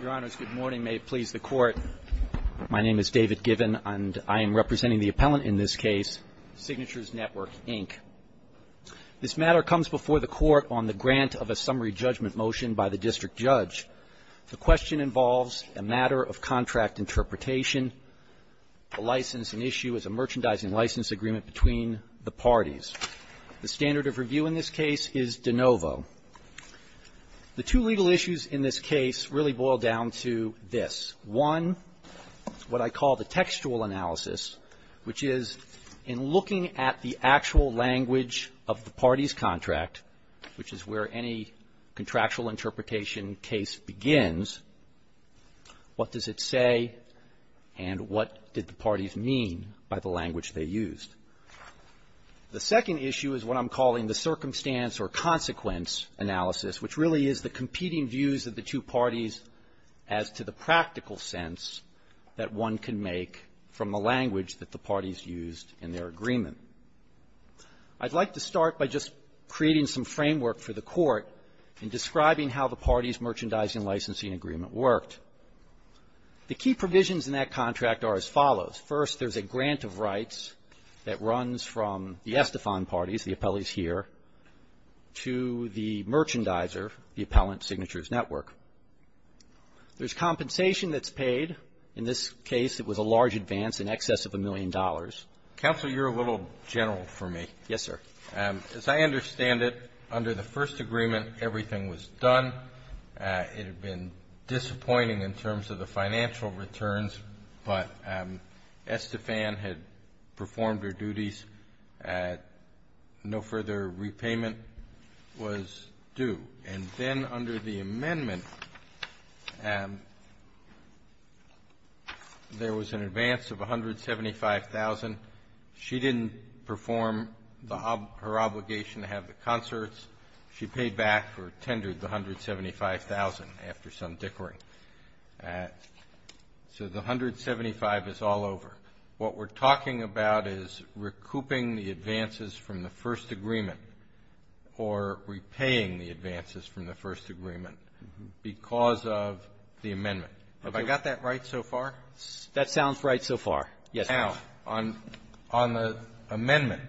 Your honors, good morning. May it please the court. My name is David Given, and I am representing the appellant in this case, Signatures Network, Inc. This matter comes before the court on the grant of a summary judgment motion by the district judge. The question involves a matter of contract interpretation. The license in issue is a merchandising license agreement between the parties. The standard of review in this case is de novo. The two legal issues in this case really boil down to this. One, what I call the textual analysis, which is in looking at the actual language of the party's contract, which is where any contractual interpretation case begins, what does it say, and what did the parties mean by the language they used. The second issue is what I'm calling the circumstance or consequence analysis, which really is the competing views of the two parties as to the practical sense that one can make from the language that the parties used in their agreement. I'd like to start by just creating some framework for the court in describing how the parties' merchandising licensing agreement worked. The key provisions in that contract are as follows. First, there's a grant of rights that runs from the Estefan parties, the appellees here, to the merchandiser, the appellant, Signatures Network. There's compensation that's paid. In this case, it was a large advance, in excess of a million dollars. Roberts. Counsel, you're a little general for me. Gannon. Yes, sir. As I understand it, under the first agreement, everything was done. It had been disappointing in terms of the financial returns, but Estefan had performed her duties. No further repayment was due. And then under the amendment, there was an advance of $175,000. She didn't perform her obligation to have the concerts. She paid back or tendered the $175,000 after some dickering. So the $175,000 is all over. What we're talking about is recouping the advances from the first agreement or repaying the advances from the first agreement because of the amendment. Have I got that right so far? That sounds right so far. Yes, Your Honor. Now, on the amendment,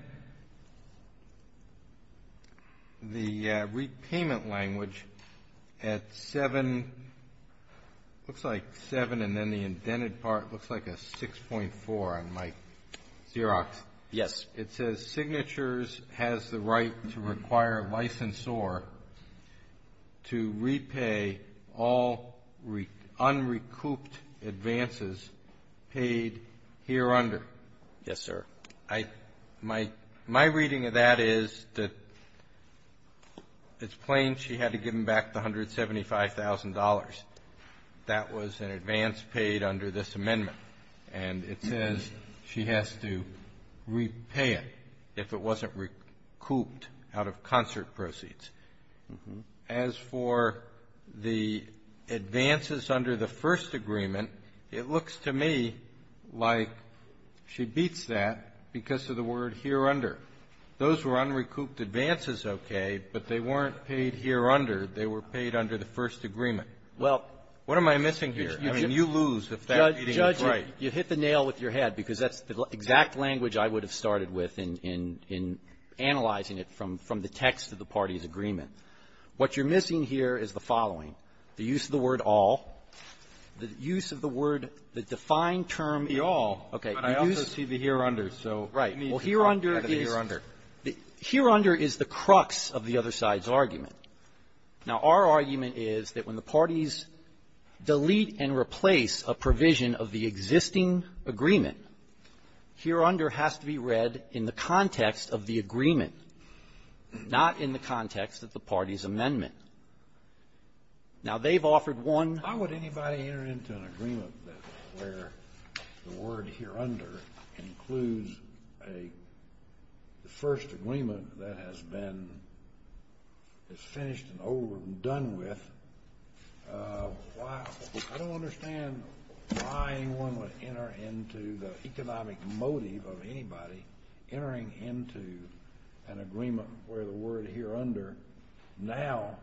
the repayment language at 7, looks like 7 and then the indented part looks like a 6.4 on my Xerox. Yes. It says, Signatures has the right to require a licensor to repay all unrecouped advances paid hereunder. Yes, sir. My reading of that is that it's plain she had to give them back the $175,000. That was an advance paid under this amendment. And it says she has to repay it if it wasn't recouped out of concert proceeds. As for the advances under the first agreement, it looks to me like she beats that because of the word hereunder. Those were unrecouped advances, okay, but they weren't paid hereunder. They were paid under the first agreement. Well, what am I missing here? I mean, you lose if that reading is right. Judge, you hit the nail with your head because that's the exact language I would have started with in analyzing it from the text of the parties' agreement. What you're missing here is the following. The use of the word all, the use of the word, the defined term all. Okay. But I also see the hereunder, so you need to talk about the hereunder. Well, hereunder is the crux of the other side's argument. Now, our argument is that when the parties delete and replace a provision of the existing agreement, hereunder has to be read in the context of the agreement, not in the context of the party's amendment. Now, they've offered one ---- Kennedy, why would anybody enter into an agreement where the word hereunder includes a first agreement that has been ---- is finished and over and done with? I don't understand why anyone would enter into the economic motive of anybody entering into an agreement where the word hereunder now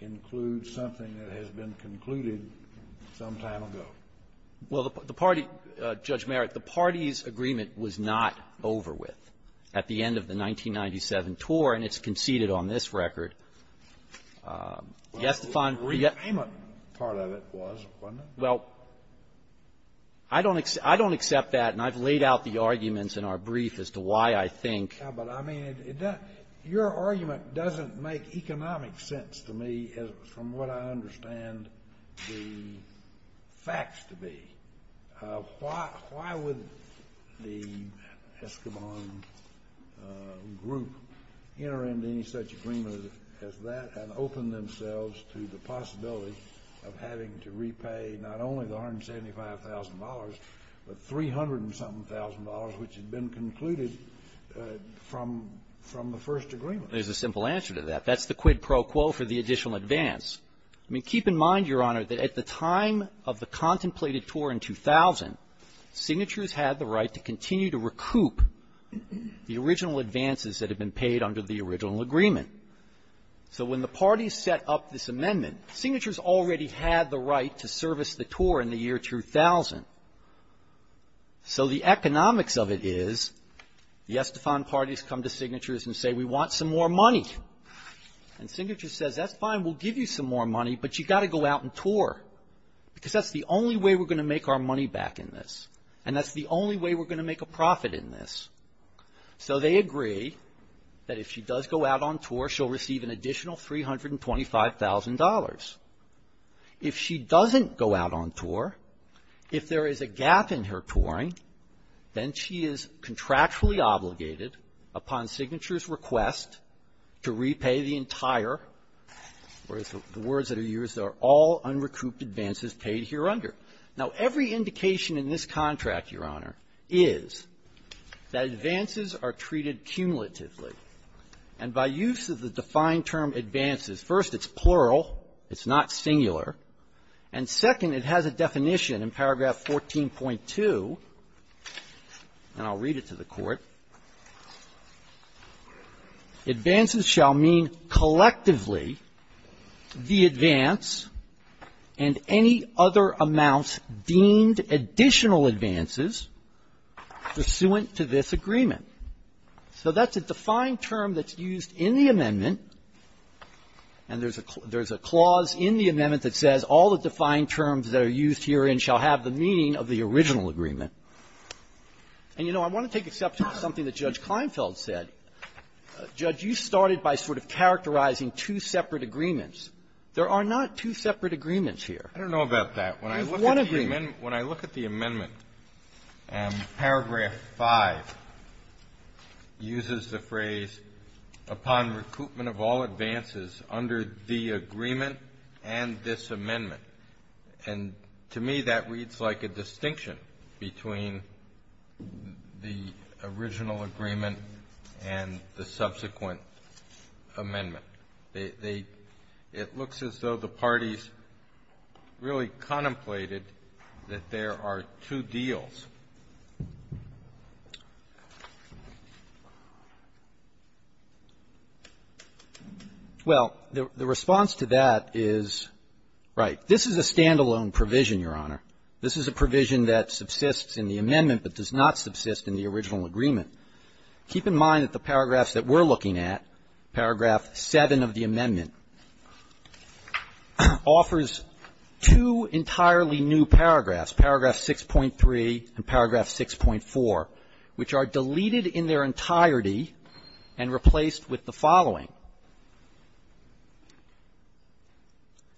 includes something that has been concluded some time ago. Well, the party ---- Judge Merritt, the party's agreement was not over with at the end of the 1997 tour, and it's conceded on this record. Yes, the fine ---- Well, the agreement part of it was, wasn't it? Well, I don't accept that, and I've laid out the arguments in our brief as to why I think ---- Yeah, but I mean, it doesn't ---- your argument doesn't make economic sense to me as from what I understand the facts to be. Why would the Escobar group enter into any such agreement as that and open themselves to the possibility of having to repay not only the $175,000, but $300-and-something thousand, which had been concluded from the first agreement? There's a simple answer to that. That's the quid pro quo for the additional advance. I mean, keep in mind, Your Honor, that at the time of the contemplated tour in 2000, Signatures had the right to continue to recoup the original advances that had been paid under the original agreement. So when the parties set up this amendment, Signatures already had the right to service the tour in the year 2000. So the economics of it is the Estefan parties come to Signatures and say, we want some more money. And Signatures says, that's fine. We'll give you some more money, but you've got to go out and tour, because that's the only way we're going to make our money back in this, and that's the only way we're going to make a profit in this. So they agree that if she does go out on tour, she'll receive an additional $325,000. If she doesn't go out on tour, if there is a gap in her touring, then she is contractually obligated, upon Signature's request, to repay the entire, or as the words that are used, are all unrecouped advances paid hereunder. Now, every indication in this contract, Your Honor, is that advances are treated cumulatively. And by use of the defined term, advances, first, it's plural. It's not singular. And second, it has a definition in paragraph 14.2, and I'll read it to the Court. Advances shall mean collectively the advance and any other amounts deemed additional advances pursuant to this agreement. So that's a defined term that's used in the amendment, and there's a clause in the amendment that says all the defined terms that are used herein shall have the meaning of the original agreement. And, you know, I want to take exception to something that Judge Kleinfeld said. Judge, you started by sort of characterizing two separate agreements. There are not two separate agreements here. I don't know about that. There's one agreement. When I look at the amendment, paragraph 5 uses the phrase, upon recoupment of all advances under the agreement and this amendment. And to me, that reads like a distinction between the original agreement and the subsequent amendment. It looks as though the parties really contemplated that there are two deals. Well, the response to that is, right, this is a stand-alone provision, Your Honor. This is a provision that subsists in the amendment but does not subsist in the original agreement. Keep in mind that the paragraphs that we're looking at, paragraph 7 of the amendment, offers two entirely new paragraphs, paragraph 6.3 and paragraph 6.4, which are deleted in their entirety and replaced with the following.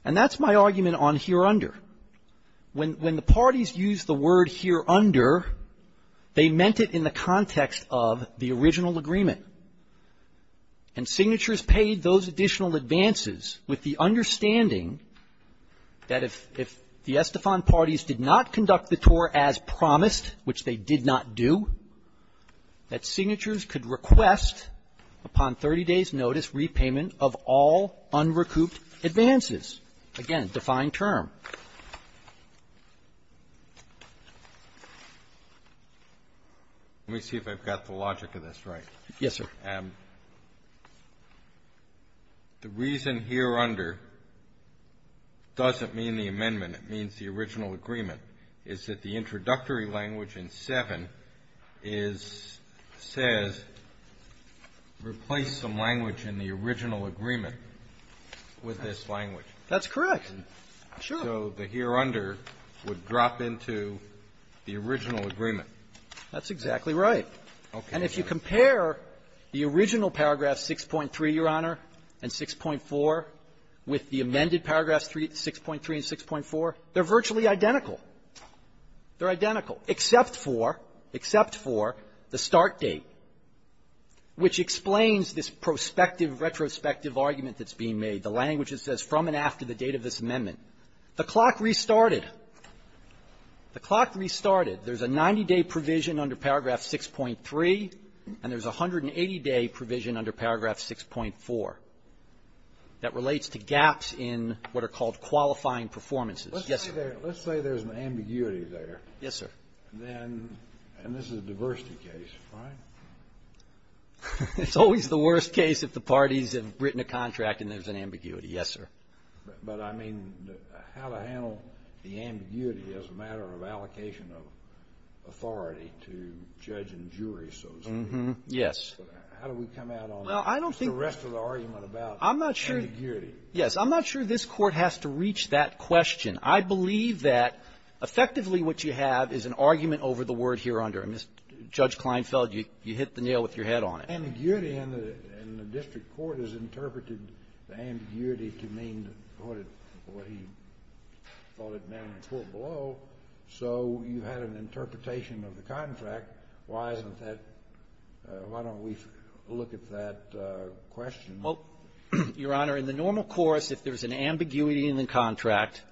And that's my argument on hereunder. When the parties used the word hereunder, they meant it in the context of the original agreement. And signatures paid those additional advances with the understanding that if the Estefan parties did not conduct the tour as promised, which they did not do, that would be payment of all unrecouped advances. Again, defined term. Let me see if I've got the logic of this right. Yes, sir. The reason hereunder doesn't mean the amendment. It means the original agreement. It's that the introductory language in 7 is says, replace some language in the original agreement with this language. That's correct. Sure. So the hereunder would drop into the original agreement. That's exactly right. Okay. And if you compare the original paragraph 6.3, Your Honor, and 6.4 with the amended paragraphs 6.3 and 6.4, they're virtually identical. They're identical, except for, except for the start date, which explains this prospective retrospective argument that's being made. The language that says from and after the date of this amendment. The clock restarted. The clock restarted. There's a 90-day provision under paragraph 6.3, and there's a 180-day provision under paragraph 6.4 that relates to gaps in what are called qualifying performances. Yes, sir. Let's say there's an ambiguity there. Yes, sir. Then, and this is a diversity case, right? It's always the worst case if the parties have written a contract and there's an ambiguity. Yes, sir. But, I mean, how to handle the ambiguity as a matter of allocation of authority to judge and jury, so to speak. Yes. How do we come out on the rest of the argument about ambiguity? Yes. I'm not sure this Court has to reach that question. I believe that effectively what you have is an argument over the word hereunder. Judge Kleinfeld, you hit the nail with your head on it. Ambiguity in the district court is interpreted, the ambiguity to mean what he thought it meant in the court below. So you had an interpretation of the contract. Why isn't that why don't we look at that question? Well, Your Honor, in the normal course, if there's an ambiguity in the contract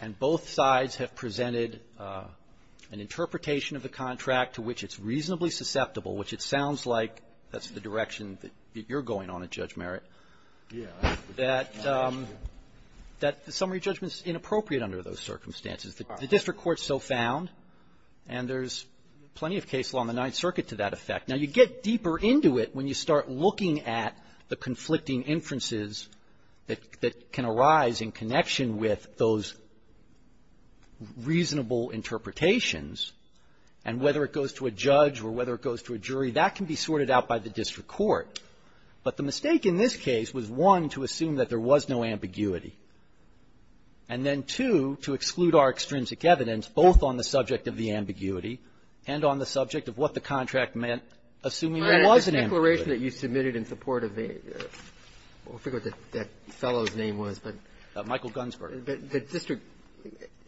and both sides have presented an interpretation of the contract to which it's reasonably susceptible, which it sounds like that's the direction that you're going on at, Judge Merritt, that the summary judgment is inappropriate under those circumstances. The district court is so found, and there's plenty of case law in the Ninth Circuit to that effect. Now, you get deeper into it when you start looking at the conflicting inferences that can arise in connection with those reasonable interpretations, and whether it goes to a judge or whether it goes to a jury, that can be sorted out by the district court. But the mistake in this case was, one, to assume that there was no ambiguity, and then, two, to exclude our extrinsic evidence both on the subject of the ambiguity and on the subject of what the contract meant, assuming there was an ambiguity. The declaration that you submitted in support of a — I forget what that fellow's name was, but — Michael Gunsberg. The district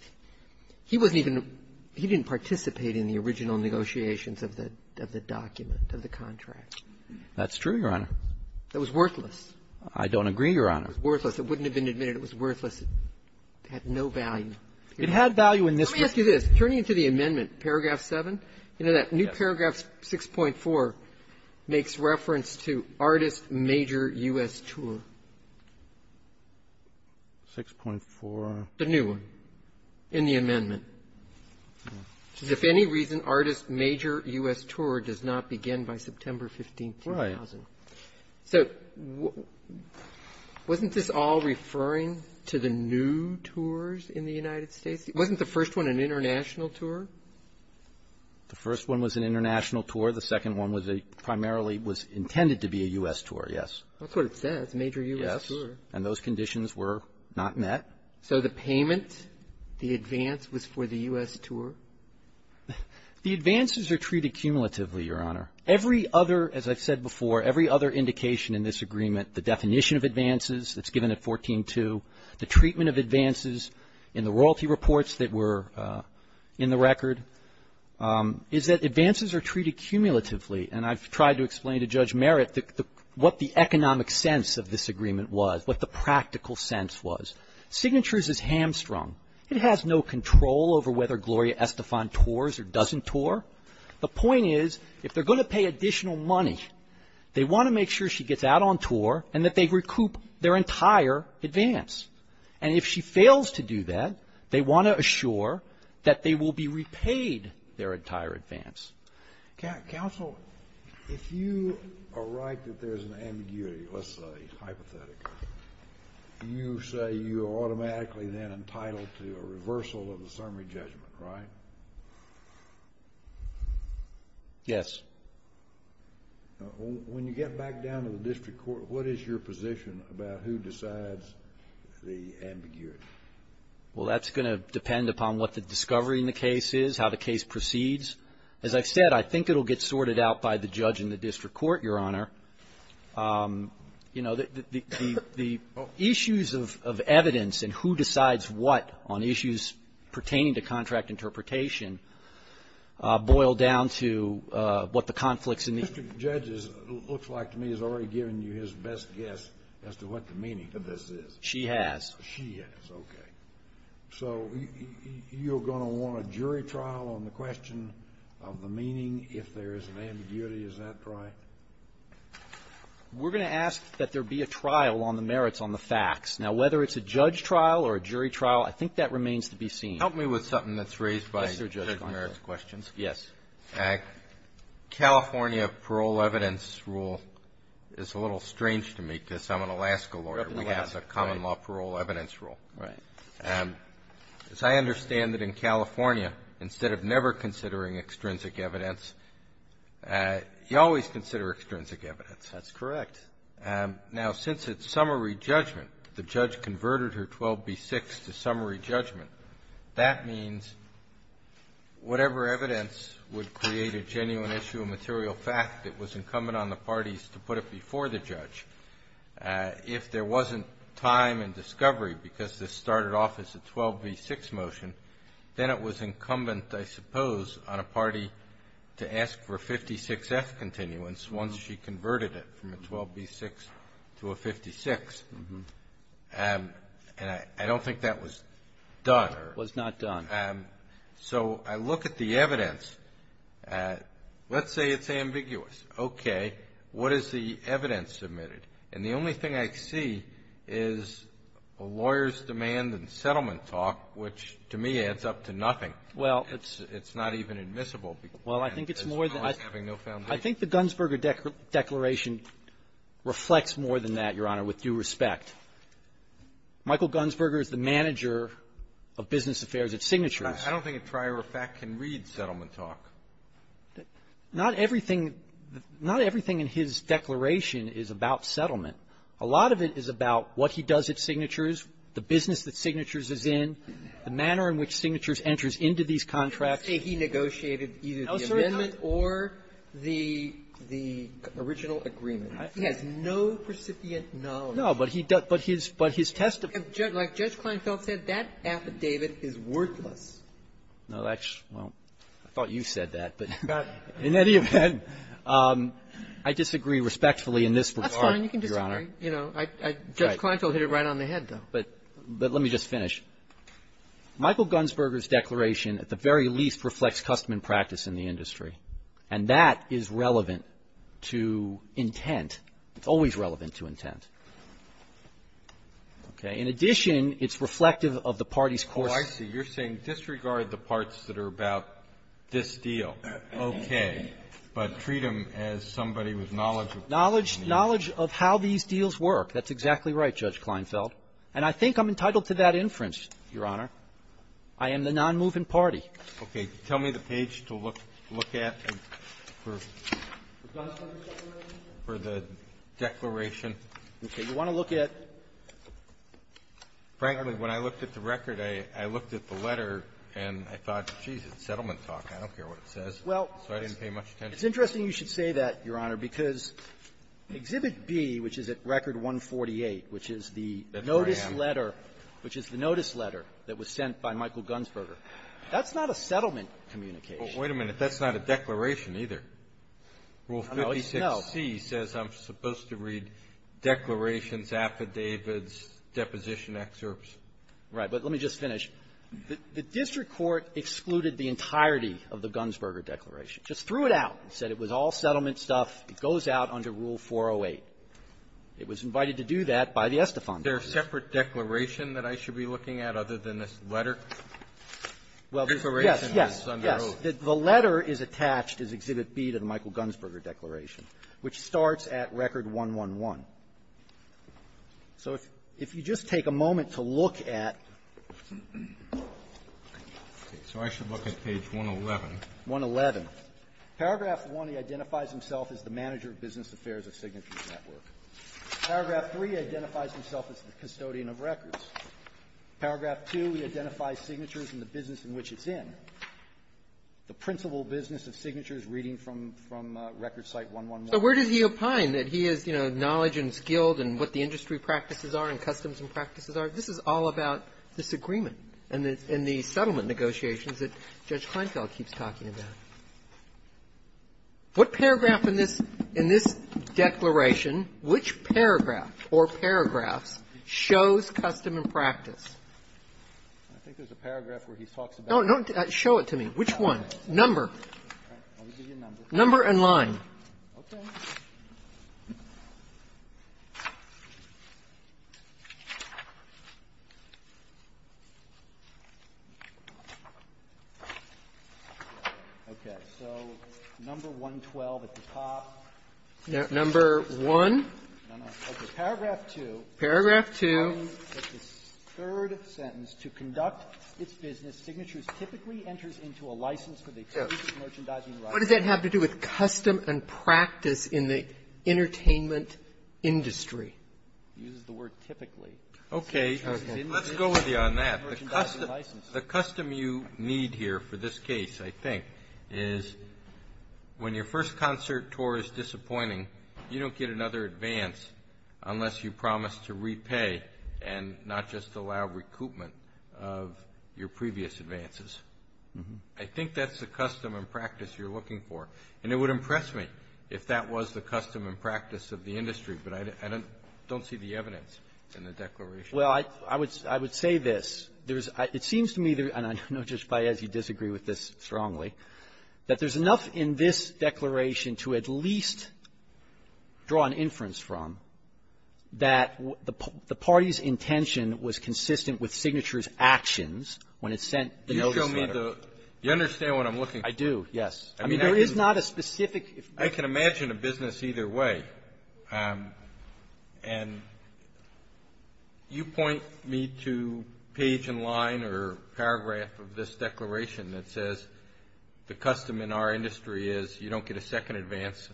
— he wasn't even — he didn't participate in the original negotiations of the document, of the contract. That's true, Your Honor. That was worthless. I don't agree, Your Honor. It was worthless. It wouldn't have been admitted. It was worthless. It had no value. It had value in this case. Let me ask you this. Turning to the amendment, paragraph 7, you know that new paragraph 6.4 makes reference to artist major U.S. tour. The new one in the amendment, which is, if any reason, artist major U.S. tour does not begin by September 15th, 2000. Right. So wasn't this all referring to the new tours in the United States? Wasn't the first one an international tour? The first one was an international tour. The second one was a — primarily was intended to be a U.S. tour, yes. That's what it says, major U.S. tour. Yes. And those conditions were not met. So the payment, the advance, was for the U.S. tour? The advances are treated cumulatively, Your Honor. Every other — as I've said before, every other indication in this agreement, the definition of advances that's given at 14-2, the treatment of advances in the royalty reports that were in the record, is that advances are treated cumulatively. And I've tried to explain to Judge Merritt what the economic sense of this agreement was, what the practical sense was. Signatures is hamstrung. It has no control over whether Gloria Estefan tours or doesn't tour. The point is, if they're going to pay additional money, they want to make sure she gets out on tour and that they recoup their entire advance. And if she fails to do that, they want to assure that they will be repaid their entire advance. Counsel, if you are right that there's an ambiguity, let's say, hypothetically, you say you are automatically then entitled to a reversal of the summary judgment, right? Yes. When you get back down to the district court, what is your position about who decides the ambiguity? Well, that's going to depend upon what the discovery in the case is, how the case proceeds. As I've said, I think it will get sorted out by the judge in the district court, Your Honor. You know, the issues of evidence and who decides what on issues pertaining to contract interpretation boil down to what the conflicts in the… The district judge looks like to me has already given you his best guess as to what the meaning of this is. She has. She has, okay. So you're going to want a jury trial on the question of the meaning if there is an ambiguity. Is that right? We're going to ask that there be a trial on the merits on the facts. Now, whether it's a judge trial or a jury trial, I think that remains to be seen. Help me with something that's raised by Judge Merrick's questions. Yes. California parole evidence rule is a little strange to me because I'm an Alaska lawyer. We have the common law parole evidence rule. Right. As I understand it in California, instead of never considering extrinsic evidence, you always consider extrinsic evidence. That's correct. Now, since it's summary judgment, the judge converted her 12B6 to summary judgment, that means whatever evidence would create a genuine issue of material fact that was incumbent on the parties to put it before the judge, if there wasn't time and discovery because this started off as a 12B6 motion, then it was incumbent, I suppose, on a party to ask for 56F continuance once she converted it from a 12B6 to a 56. And I don't think that was done. It was not done. So I look at the evidence. Let's say it's ambiguous. Okay. What is the evidence submitted? And the only thing I see is a lawyer's demand and settlement talk, which to me adds up to nothing. Well, it's not even admissible. Well, I think it's more than I think the Gunsberger Declaration reflects more than that, Your Honor, with due respect. Michael Gunsberger is the manager of Business Affairs at Signatures. I don't think a trier of fact can read settlement talk. Not everything in his declaration is about settlement. A lot of it is about what he does at Signatures, the business that Signatures is in, the manner in which Signatures enters into these contracts. You say he negotiated either the amendment or the original agreement. He has no precipient knowledge. No, but he does. But his testimony --- Like Judge Kleinfeld said, that affidavit is worthless. No, that's -- well, I thought you said that. But in any event, I disagree respectfully in this regard, Your Honor. That's fine. You can disagree. You know, Judge Kleinfeld hit it right on the head, though. But let me just finish. Michael Gunsberger's declaration, at the very least, reflects custom and practice in the industry. And that is relevant to intent. It's always relevant to intent. Okay. In addition, it's reflective of the party's course of action. Oh, I see. You're saying disregard the parts that are about this deal, okay, but treat him as somebody with knowledge of the deal. Knowledge of how these deals work. That's exactly right, Judge Kleinfeld. And I think I'm entitled to that inference, Your Honor. I am the nonmoving party. Okay. Tell me the page to look at for the declaration. Okay. You want to look at the record. I looked at the letter, and I thought, geez, it's settlement talk. I don't care what it says. So I didn't pay much attention. Well, it's interesting you should say that, Your Honor, because Exhibit B, which is at Record 148, which is the notice letter that was sent by Michael Gunsberger, that's not a settlement communication. Well, wait a minute. That's not a declaration either. Rule 56C says I'm supposed to read declarations, affidavits, deposition excerpts. Right. But let me just finish. The district court excluded the entirety of the Gunsberger declaration. Just threw it out and said it was all settlement stuff. It goes out under Rule 408. It was invited to do that by the Estefan. Is there a separate declaration that I should be looking at other than this letter? Well, this one. Yes. Yes. Yes. The letter is attached as Exhibit B to the Michael Gunsberger declaration, which starts at Record 111. So if you just take a moment to look at 111. Paragraph 1, he identifies himself as the manager of Business Affairs of Signature Network. Paragraph 3, identifies himself as the custodian of records. Paragraph 2, he identifies signatures and the business in which it's in. The principal business of signature is reading from Record Site 111. So where does he opine that he is, you know, knowledge and skilled and what the industry practices are and customs and practices are? This is all about disagreement and the settlement negotiations that Judge Kleinfeld keeps talking about. What paragraph in this declaration, which paragraph or paragraphs, shows custom practice? I think there's a paragraph where he talks about. No, no, show it to me. Which one? Number. Number and line. Okay. So number 112 at the top. Number 1. No, no. Paragraph 2. Paragraph 2. What does that have to do with custom and practice in the entertainment industry? He uses the word typically. Okay. Let's go with you on that. The custom you need here for this case, I think, is when your first concert tour is disappointing, you don't get another advance unless you promise to repay and not just allow recoupment of your previous advances. I think that's the custom and practice you're looking for. And it would impress me if that was the custom and practice of the industry, but I don't see the evidence in the declaration. Well, I would say this. There is — it seems to me, and I know Judge Paez, you disagree with this strongly, that there's enough in this declaration to at least draw an inference from that the party's intention was consistent with Signature's actions when it sent the notice letter. You show me the — you understand what I'm looking for? I do, yes. I mean, there is not a specific — I can imagine a business either way, and you point me to page and line or paragraph of this declaration that says the custom in our industry is you don't get a second advance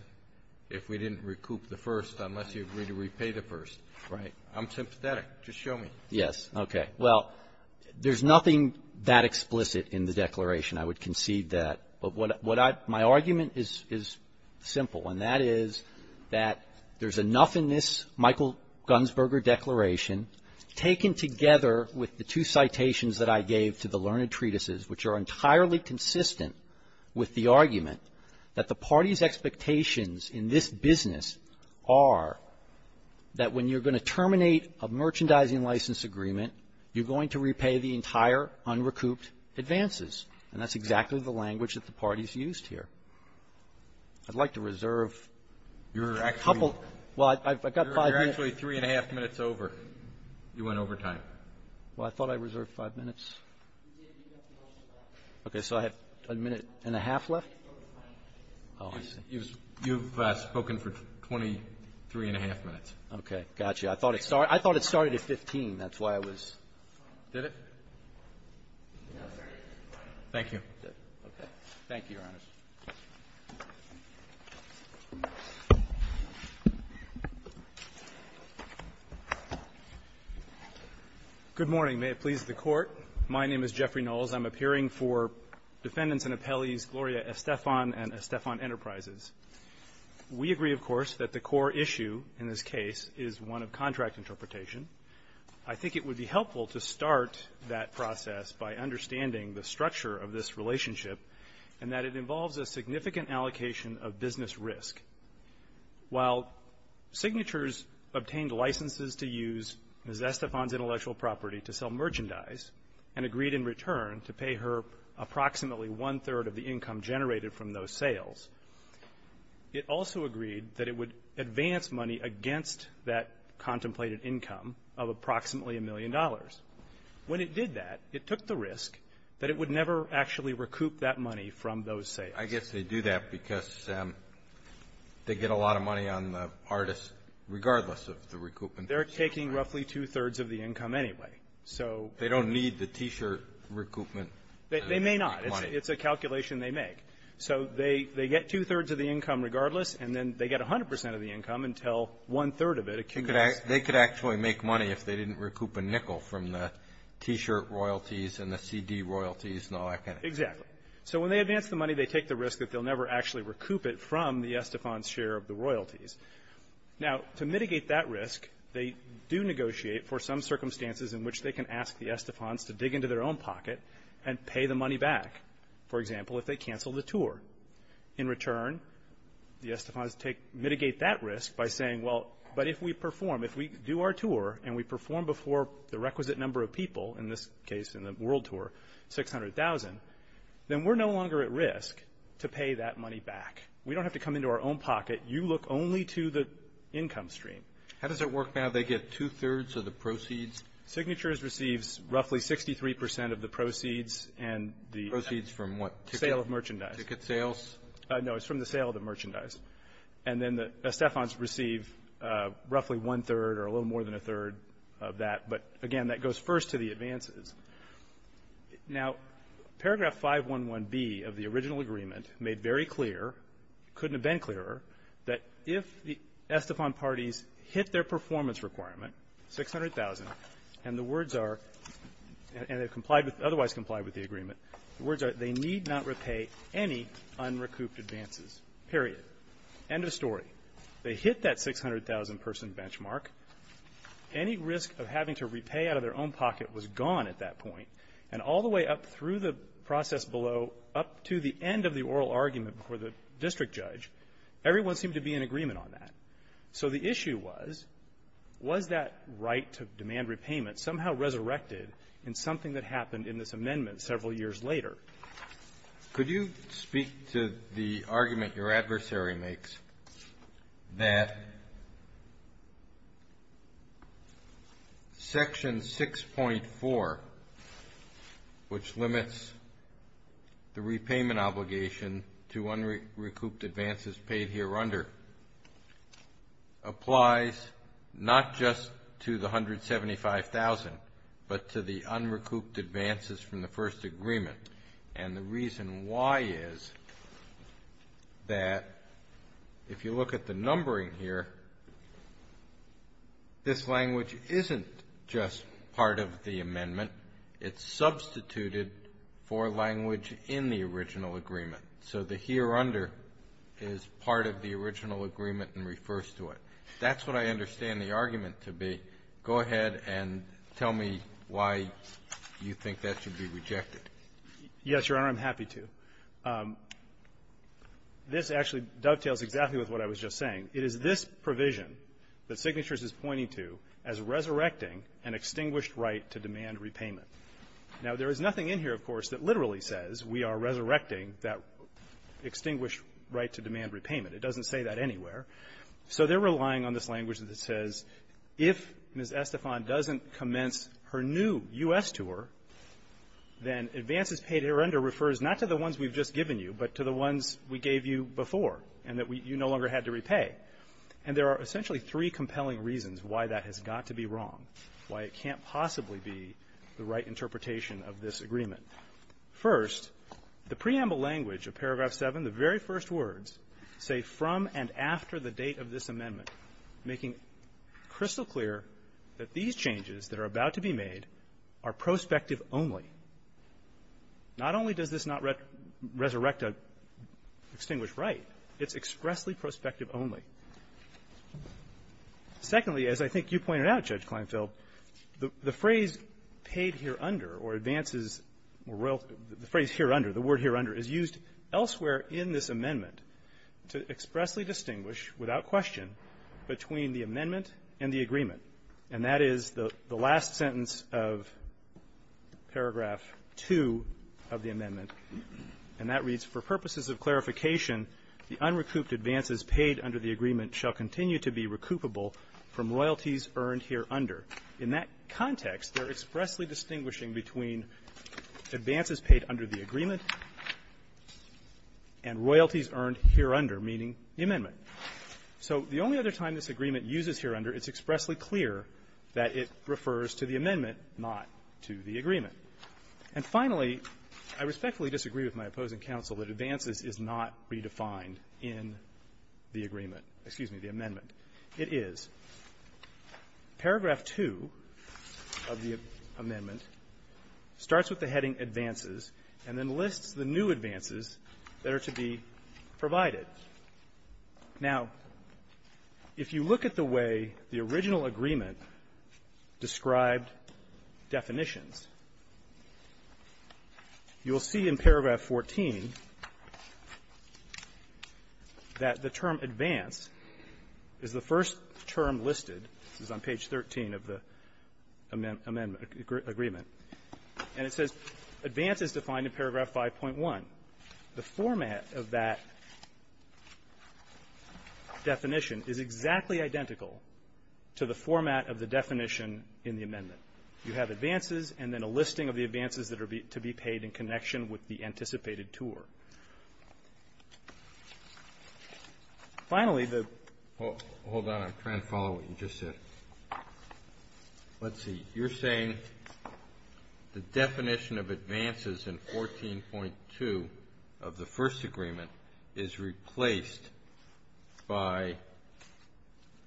if we didn't recoup the first unless you agree to repay the first. Right. I'm sympathetic. Just show me. Yes. Okay. Well, there's nothing that explicit in the declaration. I would concede that. But what I — my argument is simple, and that is that there's enough in this Michael Gunsberger declaration taken together with the two citations that I gave to the learned expectations in this business are that when you're going to terminate a merchandising license agreement, you're going to repay the entire unrecouped advances. And that's exactly the language that the parties used here. I'd like to reserve a couple — well, I've got five minutes. You're actually three and a half minutes over. You went over time. Well, I thought I reserved five minutes. Okay. So I have a minute and a half left? Oh, I see. You've spoken for 23 and a half minutes. Okay. Got you. I thought it started at 15. That's why I was — Did it? No, sir. Thank you. Okay. Thank you, Your Honors. Good morning. May it please the Court. My name is Jeffrey Knowles. I'm appearing for defendants and appellees Gloria Estefan and Estefan Enterprises. We agree, of course, that the core issue in this case is one of contract interpretation. I think it would be helpful to start that process by understanding the structure of this relationship and that it involves a significant allocation of business risk. While signatures obtained licenses to use Ms. Estefan's intellectual property to sell to pay her approximately one-third of the income generated from those sales, it also agreed that it would advance money against that contemplated income of approximately a million dollars. When it did that, it took the risk that it would never actually recoup that money from those sales. I guess they do that because they get a lot of money on the artist regardless of the recoupment. They're taking roughly two-thirds of the income anyway, so — They don't need the T-shirt recoupment. They may not. It's a calculation they make. So they get two-thirds of the income regardless, and then they get 100 percent of the income until one-third of it accumulates. They could actually make money if they didn't recoup a nickel from the T-shirt royalties and the CD royalties and all that kind of thing. Exactly. So when they advance the money, they take the risk that they'll never actually recoup it from the Estefan's share of the royalties. Now, to mitigate that risk, they do negotiate for some circumstances in which they can ask the Estefans to dig into their own pocket and pay the money back, for example, if they cancel the tour. In return, the Estefans mitigate that risk by saying, well, but if we perform — if we do our tour and we perform before the requisite number of people, in this case, in the world tour, 600,000, then we're no longer at risk to pay that money back. We don't have to come into our own pocket. You look only to the income stream. How does it work now? They get two-thirds of the proceeds? Signatures receives roughly 63 percent of the proceeds and the — Proceeds from what? Sale of merchandise. Ticket sales? No. It's from the sale of the merchandise. And then the Estefans receive roughly one-third or a little more than a third of that. But, again, that goes first to the advances. Now, paragraph 511B of the original agreement made very clear, couldn't have been clearer, that if the Estefan parties hit their performance requirement, 600,000, and the words are — and they've complied with — otherwise complied with the agreement, the words are, they need not repay any unrecouped advances, period. End of story. They hit that 600,000-person benchmark. Any risk of having to repay out of their own pocket was gone at that point. And all the way up through the process below, up to the end of the oral argument before the district judge, everyone seemed to be in agreement on that. So the issue was, was that right to demand repayment somehow resurrected in something that happened in this amendment several years later? Could you speak to the argument your adversary makes that Section 6.4, which limits the repayment obligation to unrecouped advances paid hereunder, applies not just to the 175,000, but to the unrecouped advances from the first agreement? And the reason why is that, if you look at the numbering here, this language isn't just part of the amendment. It's substituted for language in the original agreement. So the hereunder is part of the original agreement and refers to it. If that's what I understand the argument to be, go ahead and tell me why you think that should be rejected. Yes, Your Honor, I'm happy to. This actually dovetails exactly with what I was just saying. It is this provision that Signatures is pointing to as resurrecting an extinguished right to demand repayment. Now, there is nothing in here, of course, that literally says we are resurrecting that extinguished right to demand repayment. It doesn't say that anywhere. So they're relying on this language that says if Ms. Estefan doesn't commence her new U.S. tour, then advances paid hereunder refers not to the ones we've just given you, but to the ones we gave you before and that you no longer had to repay. And there are essentially three compelling reasons why that has got to be wrong, why it can't possibly be the right interpretation of this agreement. First, the preamble language of Paragraph 7, the very first words, say, from and after the date of this amendment, making crystal clear that these changes that are about to be made are prospective only. Not only does this not resurrect an extinguished right, it's expressly prospective only. Secondly, as I think you pointed out, Judge Kleinfeld, the phrase paid hereunder or advances or royalties, the phrase hereunder, the word hereunder is used elsewhere in this amendment to expressly distinguish without question between the amendment and the agreement. And that is the last sentence of Paragraph 2 of the amendment, and that reads, for purposes of clarification, the unrecouped advances paid under the agreement shall continue to be recoupable from royalties earned hereunder. In that context, they're expressly distinguishing between advances paid under the agreement and royalties earned hereunder, meaning the amendment. So the only other time this agreement uses hereunder, it's expressly clear that it refers to the amendment, not to the agreement. And finally, I respectfully disagree with my opposing counsel that advances is not redefined in the agreement or in the amendment. Excuse me, the amendment. It is. Paragraph 2 of the amendment starts with the heading advances and then lists the new advances that are to be provided. Now, if you look at the way the original agreement described definitions, you will see in Paragraph 14 that the term advance is the first term listed. It's on page 13 of the amendment agreement. And it says advance is defined in Paragraph 5.1. The format of that definition is exactly identical to the format of the definition in the amendment. You have advances and then a listing of the advances that are to be paid in connection with the anticipated tour. Finally, the ---- Kennedy. Hold on. I'm trying to follow what you just said. Let's see. You're saying the definition of advances in 14.2 of the first agreement is replaced by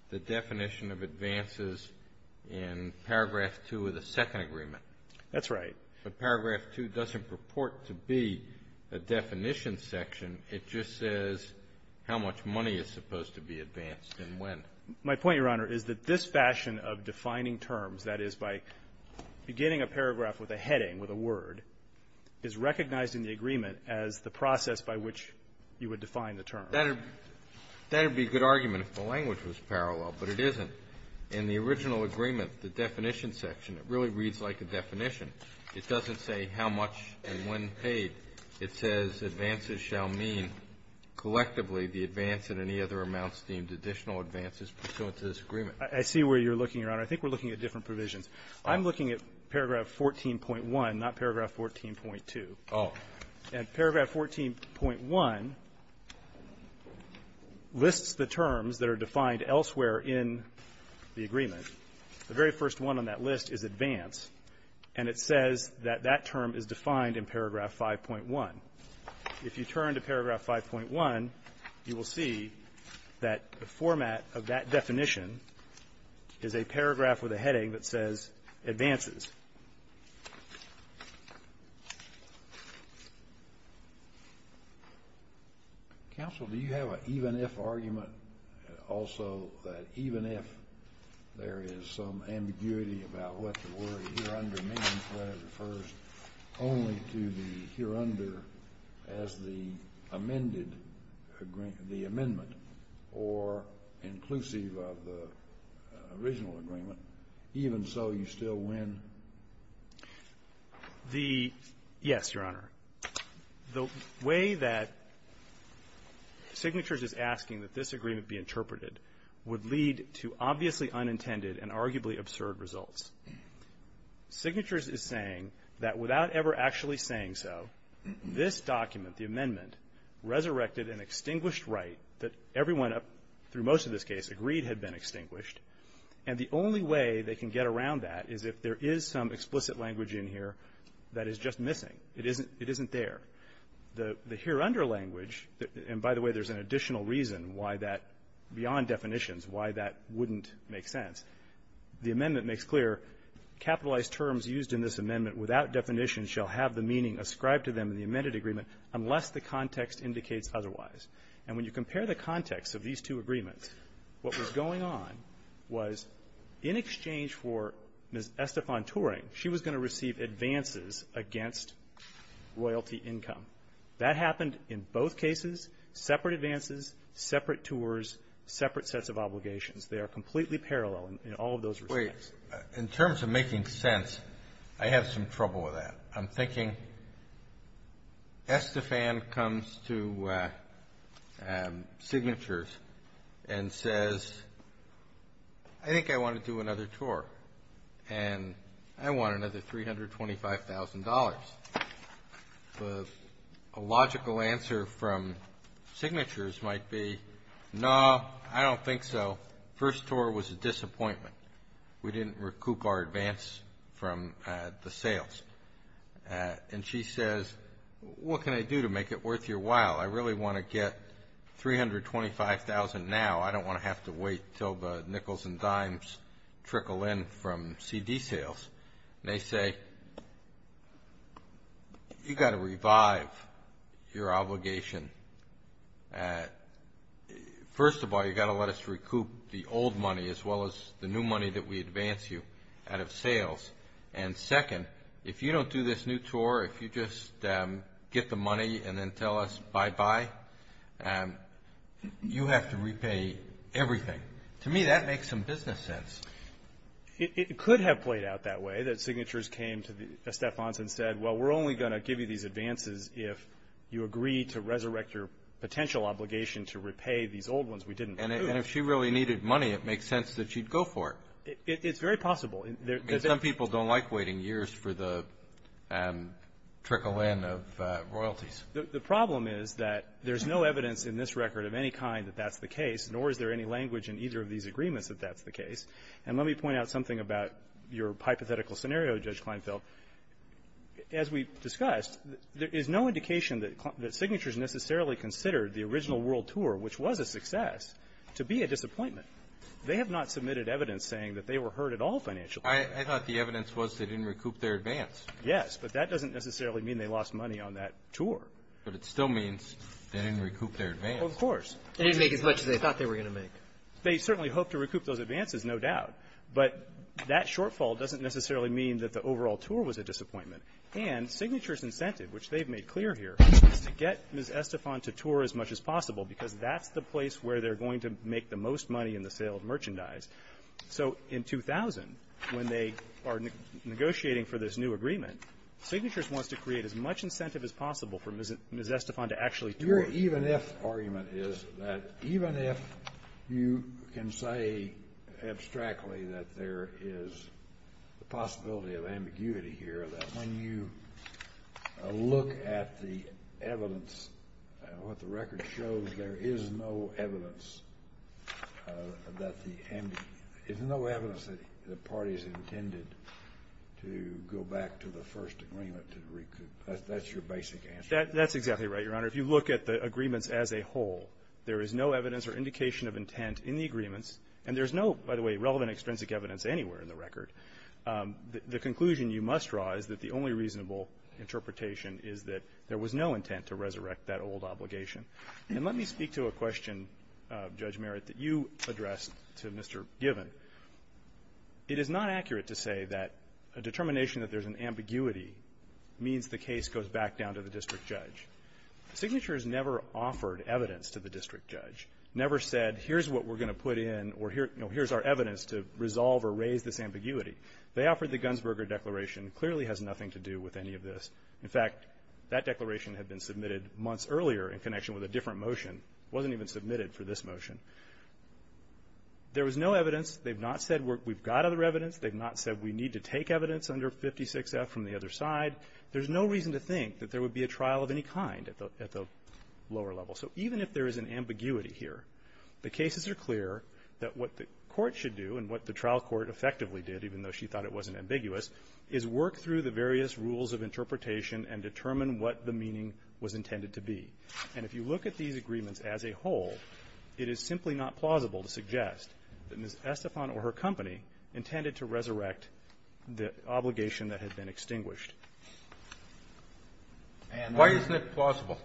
the definition of advances in Paragraph 2 of the second agreement. That's right. But Paragraph 2 doesn't purport to be a definition section. It just says how much money is supposed to be advanced and when. My point, Your Honor, is that this fashion of defining terms, that is, by beginning a paragraph with a heading, with a word, is recognized in the agreement as the process by which you would define the term. That would be a good argument if the language was parallel, but it isn't. In the original agreement, the definition section, it really reads like a definition. It doesn't say how much and when paid. It says advances shall mean collectively the advance in any other amounts deemed additional advances pursuant to this agreement. I see where you're looking, Your Honor. I think we're looking at different provisions. I'm looking at Paragraph 14.1, not Paragraph 14.2. Oh. And Paragraph 14.1 lists the terms that are defined elsewhere in the agreement. The very first one on that list is advance, and it says that that term is defined in Paragraph 5.1. If you turn to Paragraph 5.1, you will see that the format of that definition is a paragraph with a heading that says advances. Counsel, do you have an even-if argument, also, that even if there is some ambiguity about what the word hereunder means when it refers only to the hereunder as the amended agreement, the amendment, or inclusive of the original agreement, even so, you still win? The yes, Your Honor. The way that Signatures is asking that this agreement be interpreted would lead to obviously unintended and arguably absurd results. Signatures is saying that without ever actually saying so, this document, the amendment, resurrected an extinguished right that everyone, through most of this case, agreed had been extinguished. And the only way they can get around that is if there is some explicit language in here that is just missing. It isn't there. The hereunder language, and by the way, there's an additional reason why that, beyond definitions, why that wouldn't make sense. The amendment makes clear, capitalized terms used in this amendment without definition shall have the meaning ascribed to them in the amended agreement unless the context indicates otherwise. And when you compare the context of these two agreements, what was going on was in exchange for Ms. Estefan-Turing, she was going to receive advances against royalty income. That happened in both cases, separate advances, separate tours, separate sets of obligations. They are completely parallel in all of those respects. Wait. In terms of making sense, I have some trouble with that. I'm thinking Estefan comes to Signatures and says, I think I want to do another tour, and I want another $325,000. A logical answer from Signatures might be, no, I don't think so. First tour was a disappointment. We didn't recoup our advance from the sales. And she says, what can I do to make it worth your while? I really want to get $325,000 now. I don't want to have to wait until the nickels and dimes trickle in from CD sales. And they say, you've got to revive your obligation. First of all, you've got to let us recoup the old money as well as the new money that we advance you out of sales. And second, if you don't do this new tour, if you just get the money and then tell us bye-bye, you have to repay everything. To me, that makes some business sense. It could have played out that way, that Signatures came to Estefan and said, well, we're only going to give you these advances if you agree to resurrect your potential obligation to repay these old ones we didn't recoup. And if she really needed money, it makes sense that she'd go for it. It's very possible. Some people don't like waiting years for the trickle in of royalties. The problem is that there's no evidence in this record of any kind that that's the case, and let me point out something about your hypothetical scenario, Judge Kleinfeld. As we discussed, there is no indication that Signatures necessarily considered the original world tour, which was a success, to be a disappointment. They have not submitted evidence saying that they were hurt at all financially. I thought the evidence was they didn't recoup their advance. Yes, but that doesn't necessarily mean they lost money on that tour. But it still means they didn't recoup their advance. Of course. They didn't make as much as they thought they were going to make. They certainly hope to recoup those advances, no doubt. But that shortfall doesn't necessarily mean that the overall tour was a disappointment. And Signatures' incentive, which they've made clear here, is to get Ms. Estefan to tour as much as possible because that's the place where they're going to make the most money in the sale of merchandise. So in 2000, when they are negotiating for this new agreement, Signatures wants to create as much incentive as possible for Ms. Estefan to actually tour. Your even-if argument is that even if you can say abstractly that there is the possibility of ambiguity here, that when you look at the evidence, what the record shows, there is no evidence that the parties intended to go back to the first agreement to recoup. That's your basic answer. That's exactly right, Your Honor. If you look at the agreements as a whole, there is no evidence or indication of intent in the agreements. And there's no, by the way, relevant extrinsic evidence anywhere in the record. The conclusion you must draw is that the only reasonable interpretation is that there was no intent to resurrect that old obligation. And let me speak to a question, Judge Merritt, that you addressed to Mr. Given. It is not accurate to say that a determination that there's an ambiguity means the case goes back down to the district judge. Signatures never offered evidence to the district judge, never said, here's what we're going to put in or here's our evidence to resolve or raise this ambiguity. They offered the Gunsberger Declaration. It clearly has nothing to do with any of this. In fact, that declaration had been submitted months earlier in connection with a different motion. It wasn't even submitted for this motion. There was no evidence. They've not said we've got other evidence. They've not said we need to take evidence under 56F from the other side. There's no reason to think that there would be a trial of any kind at the lower level. So even if there is an ambiguity here, the cases are clear that what the court should do and what the trial court effectively did, even though she thought it wasn't ambiguous, is work through the various rules of interpretation and determine what the meaning was intended to be. And if you look at these agreements as a whole, it is simply not plausible to suggest that Ms. Estefan or her company intended to resurrect the obligation that had been extinguished. Why isn't it plausible?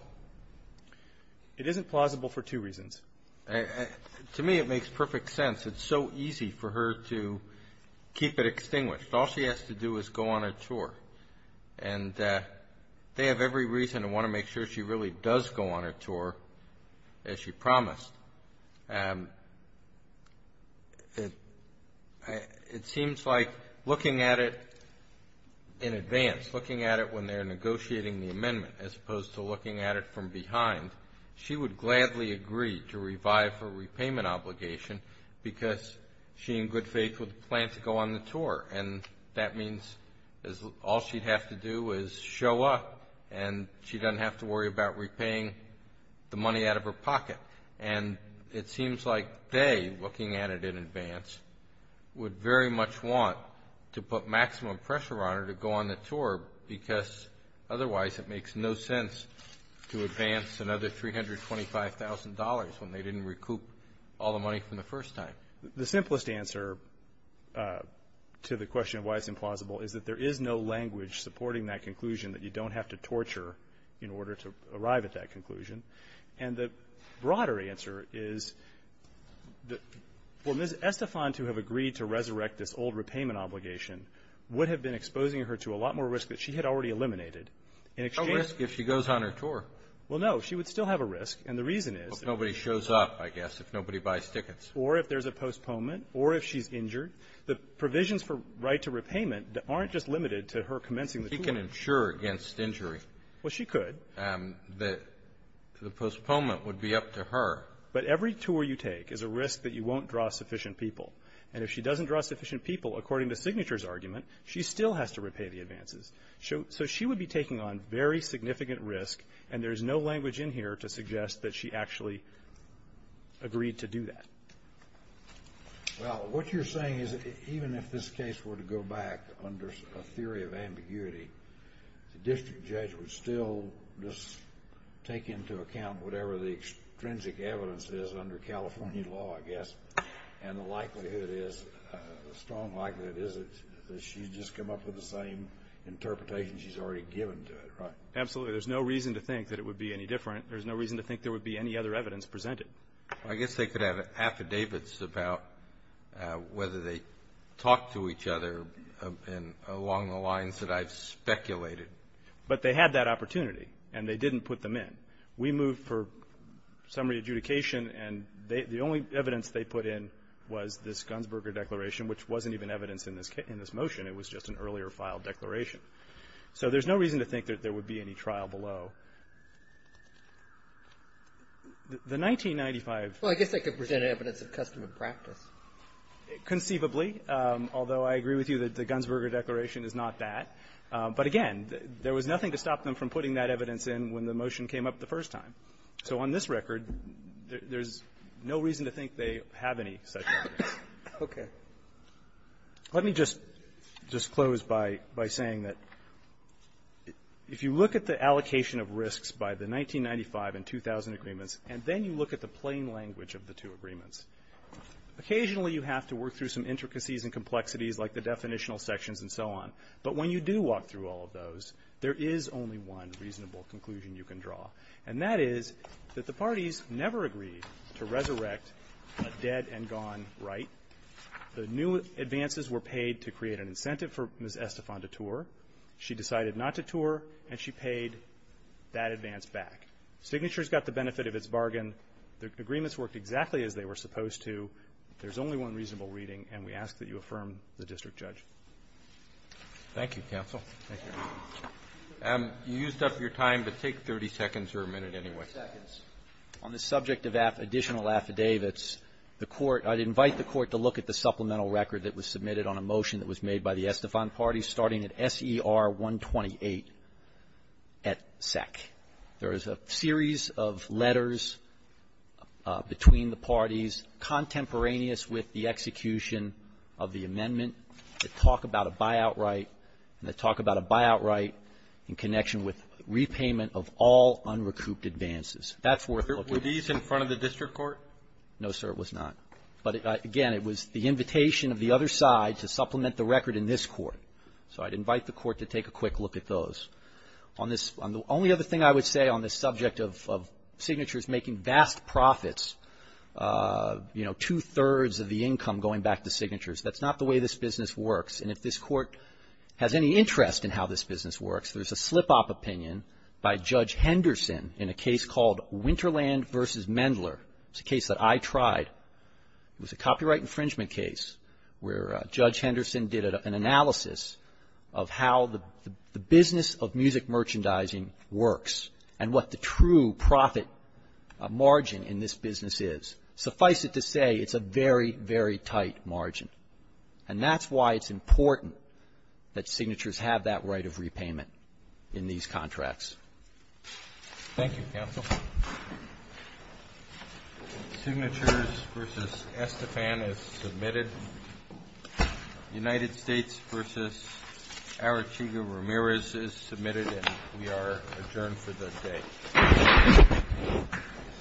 It isn't plausible for two reasons. To me it makes perfect sense. It's so easy for her to keep it extinguished. All she has to do is go on a tour. And they have every reason to want to make sure she really does go on a tour, as she promised. It seems like looking at it in advance, looking at it when they're negotiating the amendment, as opposed to looking at it from behind, she would gladly agree to revive her repayment obligation because she in good faith would plan to go on the tour. And that means all she'd have to do is show up, and she doesn't have to worry about repaying the money out of her pocket. And it seems like they, looking at it in advance, would very much want to put maximum pressure on her to go on the tour, because otherwise it makes no sense to advance another $325,000 when they didn't recoup all the money from the first time. The simplest answer to the question of why it's implausible is that there is no language supporting that conclusion, that you don't have to torture in order to arrive at that conclusion. And the broader answer is that for Ms. Estefan to have agreed to resurrect this old repayment obligation would have been exposing her to a lot more risk that she had already eliminated. No risk if she goes on her tour. Well, no, she would still have a risk. And the reason is that nobody shows up, I guess, if nobody buys tickets. Or if there's a postponement, or if she's injured. The provisions for right to repayment aren't just limited to her commencing the tour. She can insure against injury. Well, she could. The postponement would be up to her. But every tour you take is a risk that you won't draw sufficient people. And if she doesn't draw sufficient people, according to Signature's argument, she still has to repay the advances. So she would be taking on very significant risk, and there's no language in here to suggest that she actually agreed to do that. Well, what you're saying is that even if this case were to go back under a theory of ambiguity, the district judge would still just take into account whatever the extrinsic evidence is under California law, I guess. And the likelihood is, the strong likelihood is, that she's just come up with the same interpretation she's already given to it, right? Absolutely. There's no reason to think that it would be any different. There's no reason to think there would be any other evidence presented. I guess they could have affidavits about whether they talked to each other along the lines that I've speculated. But they had that opportunity, and they didn't put them in. We moved for summary adjudication, and the only evidence they put in was this Gunsberger Declaration, which wasn't even evidence in this motion. It was just an earlier filed declaration. So there's no reason to think that there would be any trial below. The 1995 ---- Well, I guess that could present evidence of custom and practice. Conceivably, although I agree with you that the Gunsberger Declaration is not that. But again, there was nothing to stop them from putting that evidence in when the motion came up the first time. So on this record, there's no reason to think they have any such evidence. Okay. Let me just close by saying that if you look at the allocation of risks by the 1995 and 2000 agreements, and then you look at the plain language of the two agreements, occasionally you have to work through some intricacies and complexities like the definitional sections and so on. But when you do walk through all of those, there is only one reasonable conclusion you can draw. And that is that the parties never agreed to resurrect a dead and gone right. The new advances were paid to create an incentive for Ms. Estefan to tour. She decided not to tour, and she paid that advance back. Signature's got the benefit of its bargain. The agreements worked exactly as they were supposed to. There's only one reasonable reading, and we ask that you affirm the district judge. Thank you, counsel. Thank you. You used up your time, but take 30 seconds or a minute anyway. 30 seconds. On the subject of additional affidavits, the Court – I'd invite the Court to look at the supplemental record that was submitted on a motion that was made by the Estefan party starting at SER 128, et sec. There is a series of letters between the parties contemporaneous with the execution of the amendment that talk about a buyout right and they talk about a buyout right in connection with repayment of all unrecouped advances. That's worth looking at. Were these in front of the district court? No, sir, it was not. But, again, it was the invitation of the other side to supplement the record in this court. So I'd invite the Court to take a quick look at those. On this – the only other thing I would say on this subject of Signature's making vast profits, you know, two-thirds of the income going back to Signature's, that's not the way this business works. And if this Court has any interest in how this business works, there's a slip-up opinion by Judge Henderson in a case called Winterland v. Mendler. It's a case that I tried. It was a copyright infringement case where Judge Henderson did an analysis of how the business of music merchandising works and what the true profit margin in this business is. Suffice it to say, it's a very, very tight margin. And that's why it's important that Signature's have that right of repayment in these contracts. Thank you, counsel. Signature's v. Estefan is submitted. United States v. Arachiga-Ramirez is submitted, and we are adjourned for the day.